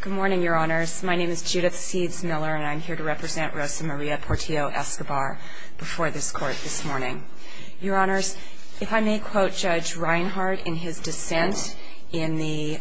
Good morning, Your Honors. My name is Judith Seeds Miller, and I'm here to represent Rosa Maria Portillo-Escobar before this court this morning. Your Honors, if I may quote Judge Reinhart in his dissent in the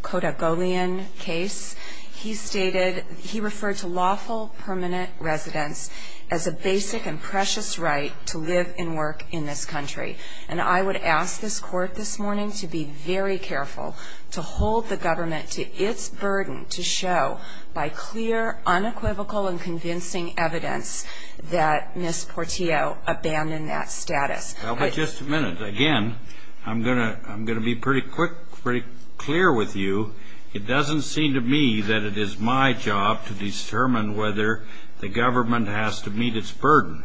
Kodagolian case. He stated, he referred to lawful permanent residence as a basic and precious right to live and work in this country. And I would ask this court this morning to be very careful to hold the government to its burden to show by clear, unequivocal, and convincing evidence that Ms. Portillo abandoned that status. Well, but just a minute. Again, I'm going to be pretty quick, pretty clear with you. It doesn't seem to me that it is my job to determine whether the government has to meet its burden.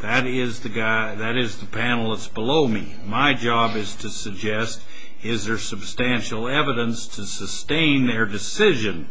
That is the panel that's below me. My job is to suggest, is there substantial evidence to sustain their decision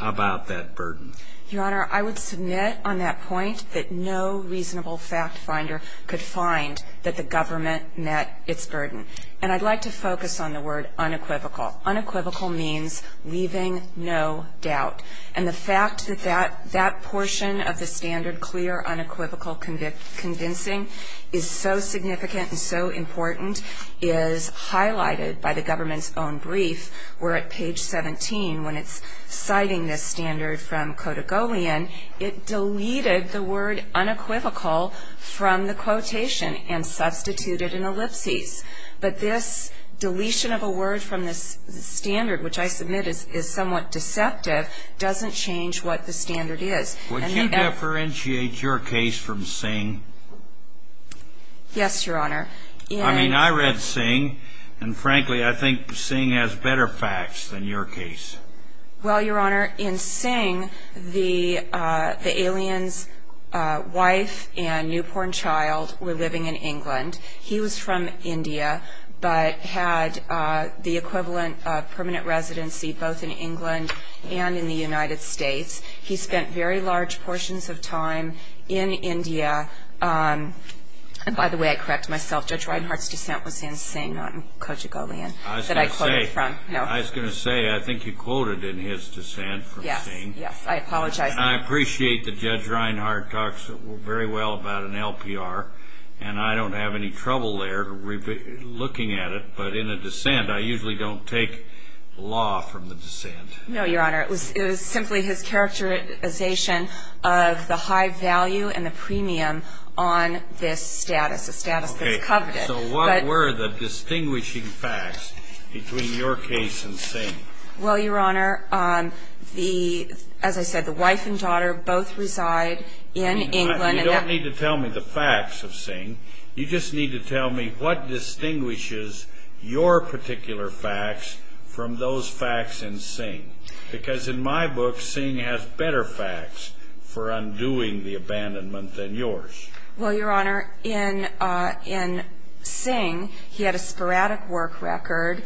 about that burden? Your Honor, I would submit on that point that no reasonable fact finder could find that the government met its burden. And I'd like to focus on the word unequivocal. Unequivocal means leaving no doubt. And the fact that that portion of the standard, clear, unequivocal, convincing, is so significant and so important is highlighted by the government's own brief, where at page 17, when it's citing this standard from Kodagolian, it deleted the word unequivocal from the quotation and substituted an ellipsis. But this deletion of a word from this standard, which I submit is somewhat deceptive, doesn't change what the standard is. Would you differentiate your case from Singh? Yes, Your Honor. I mean, I read Singh, and frankly, I think Singh has better facts than your case. Well, Your Honor, in Singh, the alien's wife and newborn child were living in England. He was from India, but had the equivalent of permanent residency both in England and in the United States. He spent very large portions of time in India. And by the way, I correct myself, Judge Reinhart's descent was in Singh, not in Kodagolian, that I quoted from. I was going to say, I think you quoted in his descent from Singh. Yes, I apologize. And I appreciate that Judge Reinhart talks very well about an LPR, and I don't have any trouble there looking at it. But in a descent, I usually don't take law from the descent. No, Your Honor. It was simply his characterization of the high value and the premium on this status, a status that's coveted. So what were the distinguishing facts between your case and Singh? Well, Your Honor, as I said, the wife and daughter both reside in England. You don't need to tell me the facts of Singh. You just need to tell me what distinguishes your particular facts from those facts in Singh. Because in my book, Singh has better facts for undoing the abandonment than yours. Well, Your Honor, in Singh, he had a sporadic work record.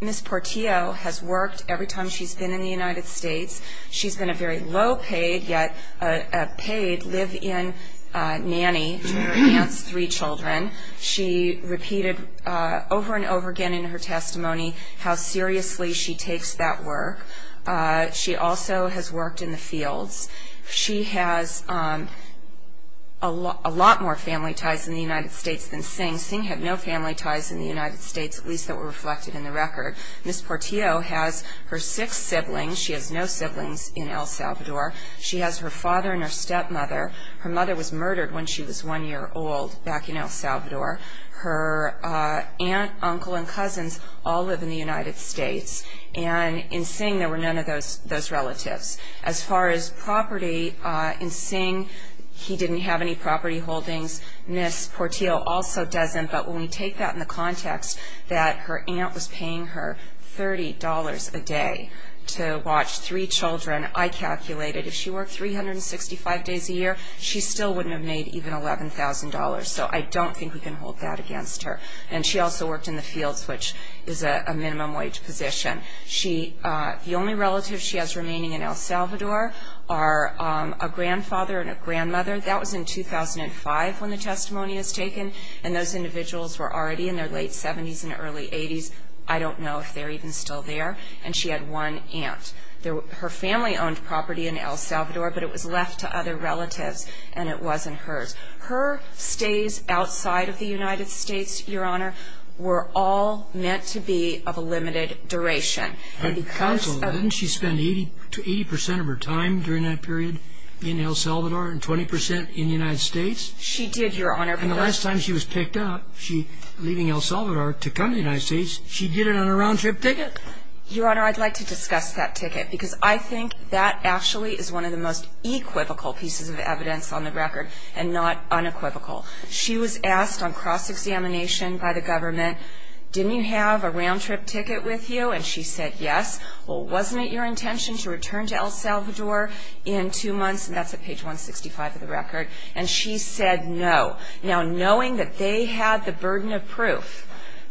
Ms. Portillo has worked every time she's been in the United States. She's been a very low-paid, yet a paid live-in nanny to her aunt's three children. She repeated over and over again in her testimony how seriously she takes that work. She also has worked in the fields. She has a lot more family ties in the United States than Singh. Singh had no family ties in the United States, at least that were reflected in the record. Ms. Portillo has her six siblings. She has no siblings in El Salvador. She has her father and her stepmother. Her mother was murdered when she was one year old back in El Salvador. Her aunt, uncle, and cousins all live in the United States. And in Singh, there were none of those relatives. As far as property, in Singh, he didn't have any property holdings. Ms. Portillo also doesn't. But when we take that in the context that her aunt was paying her $30 a day to watch three children, I calculated if she worked 365 days a year, she still wouldn't have made even $11,000. So I don't think we can hold that against her. And she also worked in the fields, which is a minimum wage position. The only relatives she has remaining in El Salvador are a grandfather and a grandmother. That was in 2005 when the testimony was taken. And those individuals were already in their late 70s and early 80s. I don't know if they're even still there. And she had one aunt. Her family owned property in El Salvador, but it was left to other relatives, and it wasn't hers. Her stays outside of the United States, Your Honor, were all meant to be of a limited duration. Counsel, didn't she spend 80 percent of her time during that period in El Salvador and 20 percent in the United States? She did, Your Honor. And the last time she was picked up, leaving El Salvador to come to the United States, she did it on a round-trip ticket? Your Honor, I'd like to discuss that ticket, because I think that actually is one of the most equivocal pieces of evidence on the record and not unequivocal. She was asked on cross-examination by the government, didn't you have a round-trip ticket with you? And she said yes. Well, wasn't it your intention to return to El Salvador in two months? And that's at page 165 of the record. And she said no. Now, knowing that they had the burden of proof,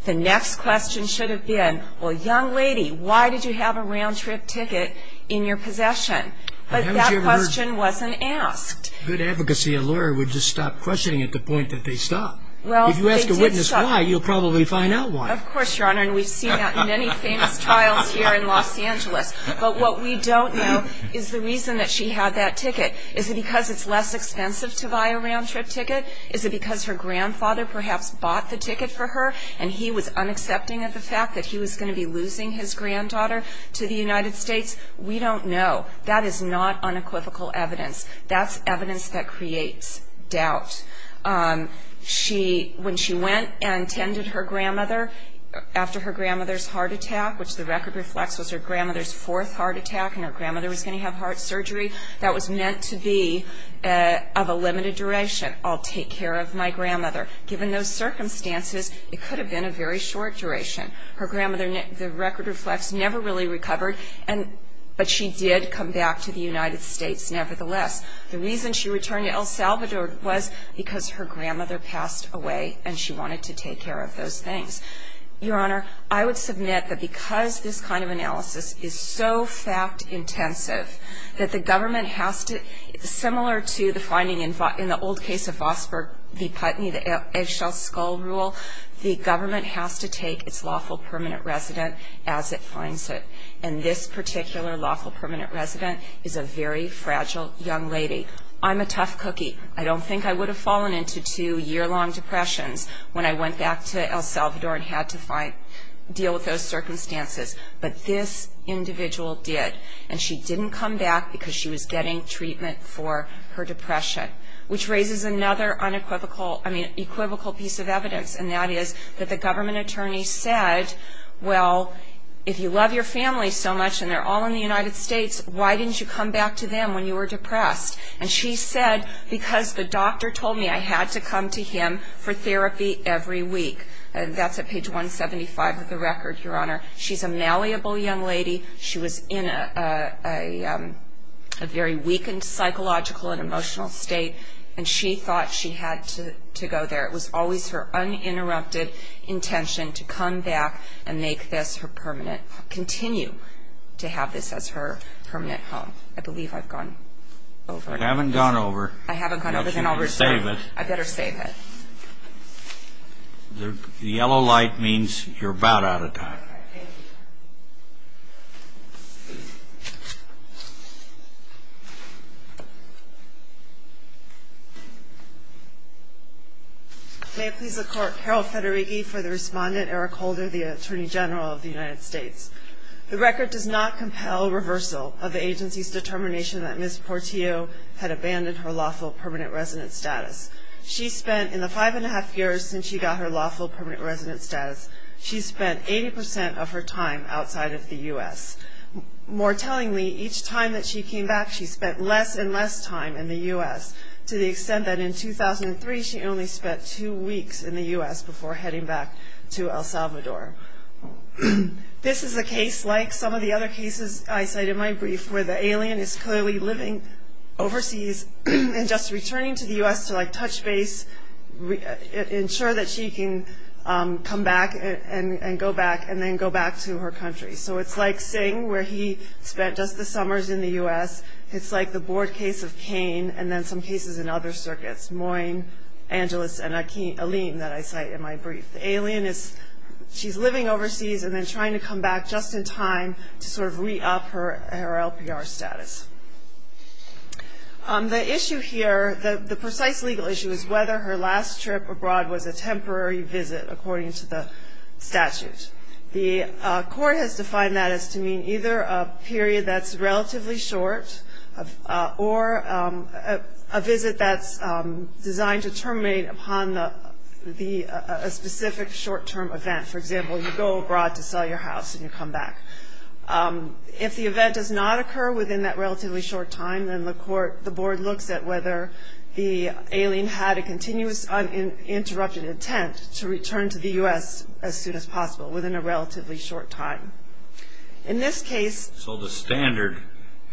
the next question should have been, well, young lady, why did you have a round-trip ticket in your possession? But that question wasn't asked. Good advocacy, a lawyer would just stop questioning at the point that they stopped. If you ask a witness why, you'll probably find out why. Of course, Your Honor, and we've seen that in many famous trials here in Los Angeles. But what we don't know is the reason that she had that ticket. Is it because it's less expensive to buy a round-trip ticket? Is it because her grandfather perhaps bought the ticket for her, and he was unaccepting of the fact that he was going to be losing his granddaughter to the United States? We don't know. That is not unequivocal evidence. That's evidence that creates doubt. When she went and tended her grandmother after her grandmother's heart attack, which the record reflects was her grandmother's fourth heart attack and her grandmother was going to have heart surgery, that was meant to be of a limited duration. I'll take care of my grandmother. Given those circumstances, it could have been a very short duration. Her grandmother, the record reflects, never really recovered, but she did come back to the United States nevertheless. The reason she returned to El Salvador was because her grandmother passed away and she wanted to take care of those things. Your Honor, I would submit that because this kind of analysis is so fact-intensive that the government has to, similar to the finding in the old case of Vosburgh v. Putney, the eggshell skull rule, the government has to take its lawful permanent resident as it finds it, and this particular lawful permanent resident is a very fragile young lady. I'm a tough cookie. I don't think I would have fallen into two year-long depressions when I went back to El Salvador and had to deal with those circumstances, but this individual did, and she didn't come back because she was getting treatment for her depression, which raises another unequivocal piece of evidence, and that is that the government attorney said, well, if you love your family so much and they're all in the United States, why didn't you come back to them when you were depressed? And she said, because the doctor told me I had to come to him for therapy every week. That's at page 175 of the record, Your Honor. She's a malleable young lady. She was in a very weakened psychological and emotional state, and she thought she had to go there. It was always her uninterrupted intention to come back and make this her permanent, continue to have this as her permanent home. I believe I've gone over. You haven't gone over. I haven't gone over, then I'll resume. I better save it. The yellow light means you're about out of time. May it please the Court, Carol Federighi for the respondent, Eric Holder, the Attorney General of the United States. The record does not compel reversal of the agency's determination that Ms. Portillo had abandoned her lawful permanent residence status. She spent, in the five-and-a-half years since she got her lawful permanent residence status, she spent 80% of her time outside of the U.S. More tellingly, each time that she came back, she spent less and less time in the U.S., to the extent that in 2003 she only spent two weeks in the U.S. before heading back to El Salvador. This is a case like some of the other cases I cite in my brief, where the alien is clearly living overseas and just returning to the U.S. to, like, touch base, ensure that she can come back and go back, and then go back to her country. So it's like Singh, where he spent just the summers in the U.S. It's like the board case of Kane and then some cases in other circuits, Moyne, Angelis, and Alim that I cite in my brief. The alien is, she's living overseas and then trying to come back just in time to sort of re-up her LPR status. The issue here, the precise legal issue, is whether her last trip abroad was a temporary visit, according to the statute. The court has defined that as to mean either a period that's relatively short or a visit that's designed to terminate upon a specific short-term event. For example, you go abroad to sell your house and you come back. If the event does not occur within that relatively short time, then the board looks at whether the alien had a continuous uninterrupted intent to return to the U.S. as soon as possible, within a relatively short time. In this case... So the standard,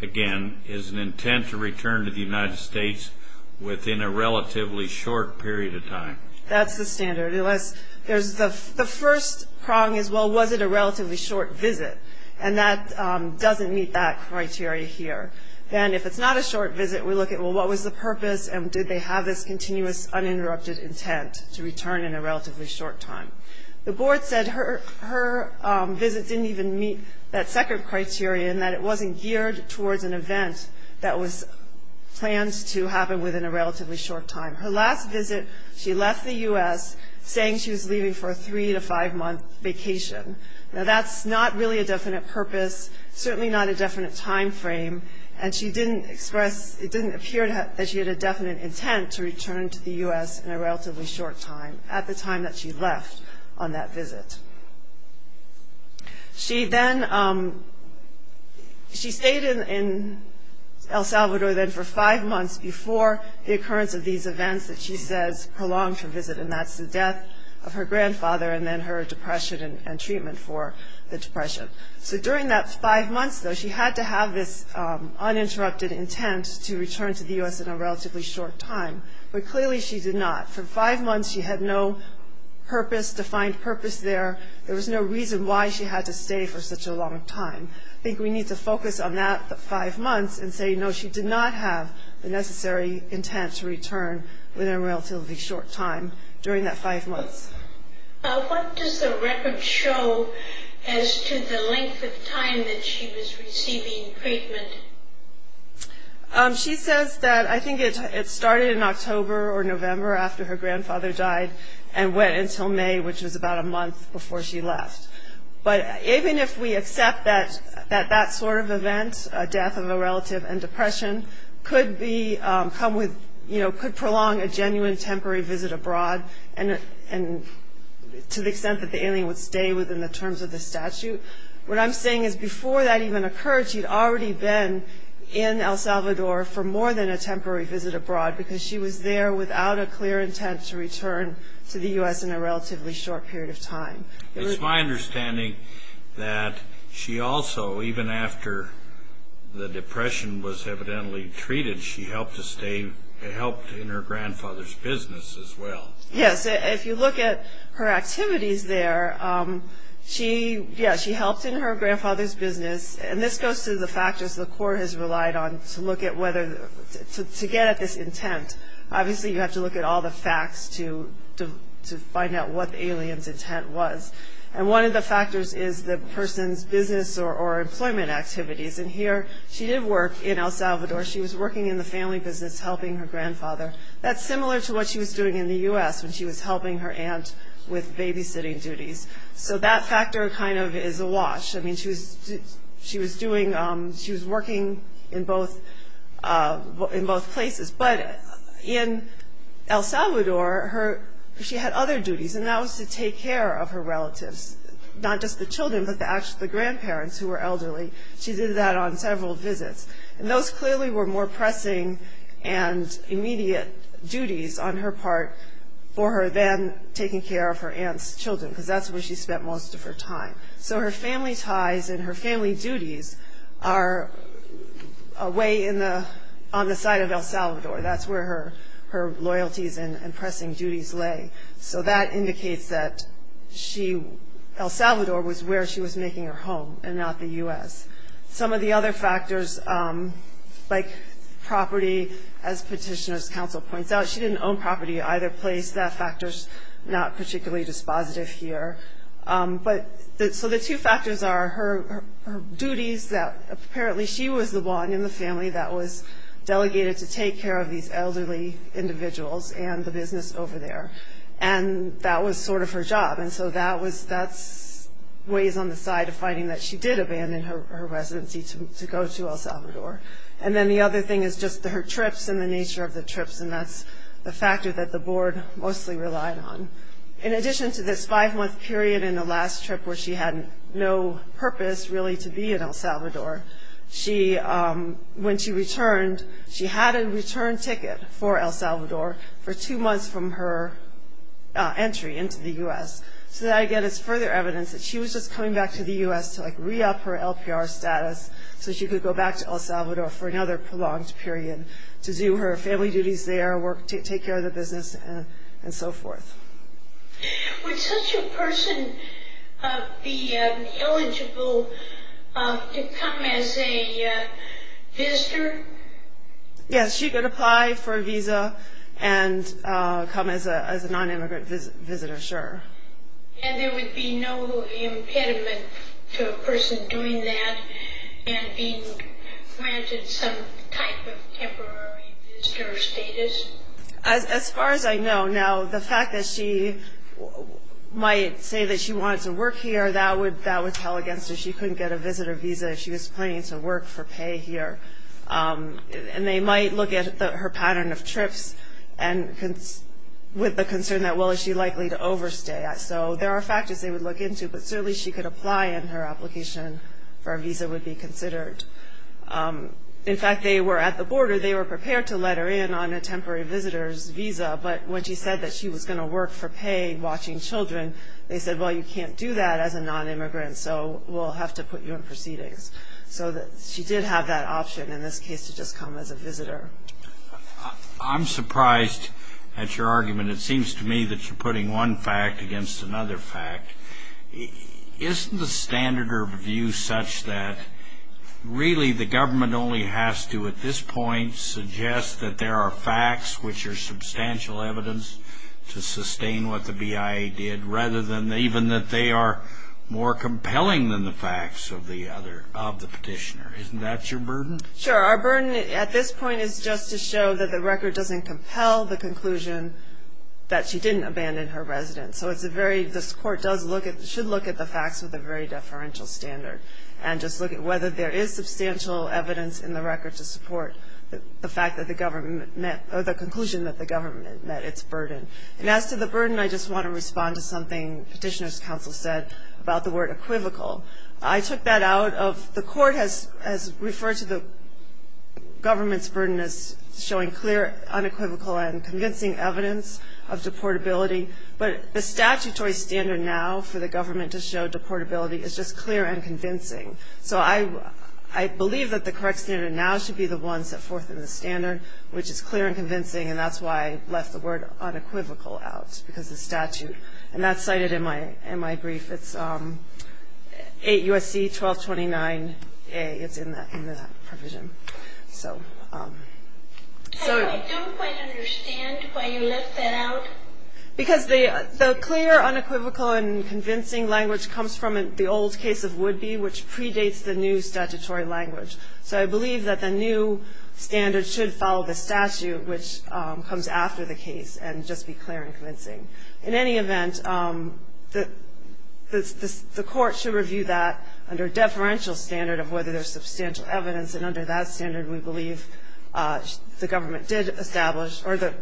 again, is an intent to return to the United States within a relatively short period of time. That's the standard. The first prong is, well, was it a relatively short visit? And that doesn't meet that criteria here. Then if it's not a short visit, we look at, well, what was the purpose and did they have this continuous uninterrupted intent to return in a relatively short time? The board said her visit didn't even meet that second criteria in that it wasn't geared towards an event that was planned to happen within a relatively short time. Her last visit, she left the U.S. saying she was leaving for a three- to five-month vacation. Now, that's not really a definite purpose, certainly not a definite time frame, and it didn't appear that she had a definite intent to return to the U.S. in a relatively short time, at the time that she left on that visit. She stayed in El Salvador then for five months before the occurrence of these events that she says prolonged her visit, and that's the death of her grandfather and then her depression and treatment for the depression. So during that five months, though, she had to have this uninterrupted intent to return to the U.S. in a relatively short time, but clearly she did not. For five months, she had no purpose, defined purpose there. There was no reason why she had to stay for such a long time. I think we need to focus on that five months and say, no, she did not have the necessary intent to return within a relatively short time during that five months. What does the record show as to the length of time that she was receiving treatment? She says that I think it started in October or November after her grandfather died and went until May, which was about a month before she left. But even if we accept that that sort of event, a death of a relative and depression, could prolong a genuine temporary visit abroad to the extent that the alien would stay within the terms of the statute, what I'm saying is before that even occurred, she'd already been in El Salvador for more than a temporary visit abroad because she was there without a clear intent to return to the U.S. in a relatively short period of time. It's my understanding that she also, even after the depression was evidently treated, she helped in her grandfather's business as well. Yes, if you look at her activities there, she helped in her grandfather's business. And this goes to the factors the court has relied on to get at this intent. Obviously, you have to look at all the facts to find out what the alien's intent was. And one of the factors is the person's business or employment activities. And here she did work in El Salvador. She was working in the family business helping her grandfather. That's similar to what she was doing in the U.S. when she was helping her aunt with babysitting duties. So that factor kind of is awash. I mean, she was working in both places. But in El Salvador, she had other duties, and that was to take care of her relatives, not just the children but the grandparents who were elderly. She did that on several visits. And those clearly were more pressing and immediate duties on her part for her then taking care of her aunt's children because that's where she spent most of her time. So her family ties and her family duties are on the side of El Salvador. That's where her loyalties and pressing duties lay. So that indicates that El Salvador was where she was making her home and not the U.S. Some of the other factors, like property, as Petitioner's Counsel points out, she didn't own property either place. That factor is not particularly dispositive here. So the two factors are her duties that apparently she was the one in the family that was delegated to take care of these elderly individuals and the business over there. And that was sort of her job. And so that's ways on the side of finding that she did abandon her residency to go to El Salvador. And then the other thing is just her trips and the nature of the trips, and that's the factor that the board mostly relied on. In addition to this five-month period in the last trip where she had no purpose really to be in El Salvador, when she returned, she had a return ticket for El Salvador for two months from her entry into the U.S. So that, again, is further evidence that she was just coming back to the U.S. to re-up her LPR status so she could go back to El Salvador for another prolonged period to do her family duties there, take care of the business, and so forth. Would such a person be eligible to come as a visitor? Yes, she could apply for a visa and come as a nonimmigrant visitor, sure. And there would be no impediment to a person doing that and being granted some type of temporary visitor status? As far as I know, now, the fact that she might say that she wanted to work here, that would tell against her she couldn't get a visitor visa. She was planning to work for pay here. And they might look at her pattern of trips with the concern that, well, is she likely to overstay? So there are factors they would look into, but certainly she could apply and her application for a visa would be considered. In fact, they were at the border. They were prepared to let her in on a temporary visitor's visa, but when she said that she was going to work for pay watching children, they said, well, you can't do that as a nonimmigrant, so we'll have to put you in proceedings. So she did have that option in this case to just come as a visitor. I'm surprised at your argument. It seems to me that you're putting one fact against another fact. Isn't the standard of view such that really the government only has to, at this point, suggest that there are facts which are substantial evidence to sustain what the BIA did, rather than even that they are more compelling than the facts of the petitioner? Isn't that your burden? Sure. Our burden at this point is just to show that the record doesn't compel the conclusion that she didn't abandon her residence. So it's a very, this court should look at the facts with a very deferential standard and just look at whether there is substantial evidence in the record to support the fact that the government met, or the conclusion that the government met its burden. And as to the burden, I just want to respond to something Petitioner's Counsel said about the word equivocal. I took that out of, the court has referred to the government's burden as showing clear unequivocal and convincing evidence of deportability, but the statutory standard now for the government to show deportability is just clear and convincing. So I believe that the correct standard now should be the one set forth in the standard, which is clear and convincing, and that's why I left the word unequivocal out, because of the statute. And that's cited in my brief. It's 8 U.S.C. 1229A. It's in that provision. So. I don't quite understand why you left that out. Because the clear unequivocal and convincing language comes from the old case of Woodby, which predates the new statutory language. So I believe that the new standard should follow the statute, which comes after the case, and just be clear and convincing. In any event, the court should review that under a deferential standard of whether there's substantial evidence, and under that standard, we believe the government did establish or the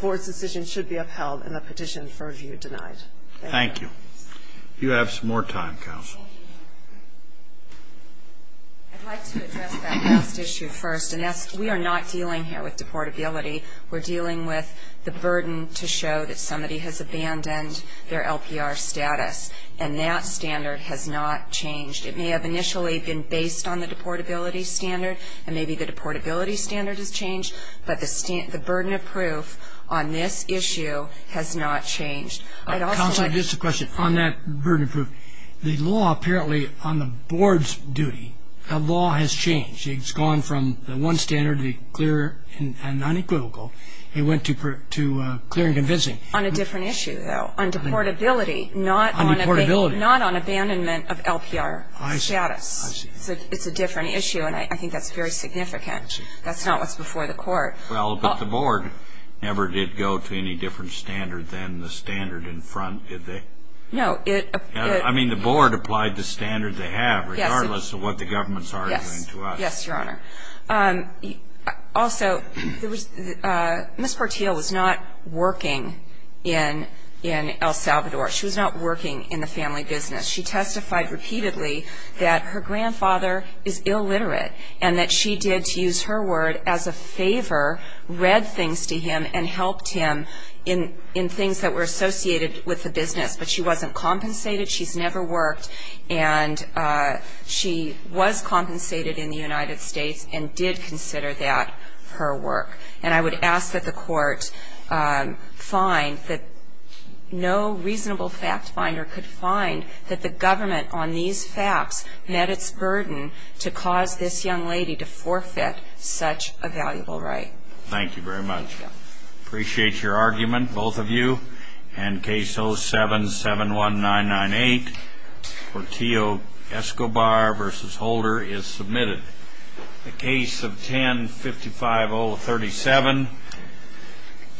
board's decision should be upheld and the petition for review denied. Thank you. You have some more time, counsel. I'd like to address that last issue first. And that's we are not dealing here with deportability. We're dealing with the burden to show that somebody has abandoned their LPR status, and that standard has not changed. It may have initially been based on the deportability standard, and maybe the deportability standard has changed, but the burden of proof on this issue has not changed. Counsel, I have just a question on that burden of proof. The law apparently on the board's duty, the law has changed. It's gone from the one standard to clear and unequivocal. It went to clear and convincing. On a different issue, though. On deportability. On deportability. Not on abandonment of LPR status. I see. I see. It's a different issue, and I think that's very significant. I see. That's not what's before the court. Well, but the board never did go to any different standard than the standard in front, did they? No. I mean, the board applied the standard they have, regardless of what the government's arguing to us. Yes. Yes, Your Honor. Also, Ms. Portillo was not working in El Salvador. She was not working in the family business. She testified repeatedly that her grandfather is illiterate and that she did, to use her word, as a favor, read things to him and helped him in things that were associated with the business, but she wasn't compensated. She's never worked, and she was compensated in the United States and did consider that her work. And I would ask that the court find that no reasonable fact finder could find that the government on these facts met its burden to cause this young lady to forfeit such a valuable right. Thank you very much. I appreciate your argument, both of you. And case 0771998, Portillo-Escobar v. Holder, is submitted. The case of 10-55037,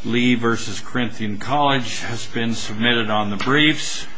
Lee v. Corinthian College, has been submitted on the briefs.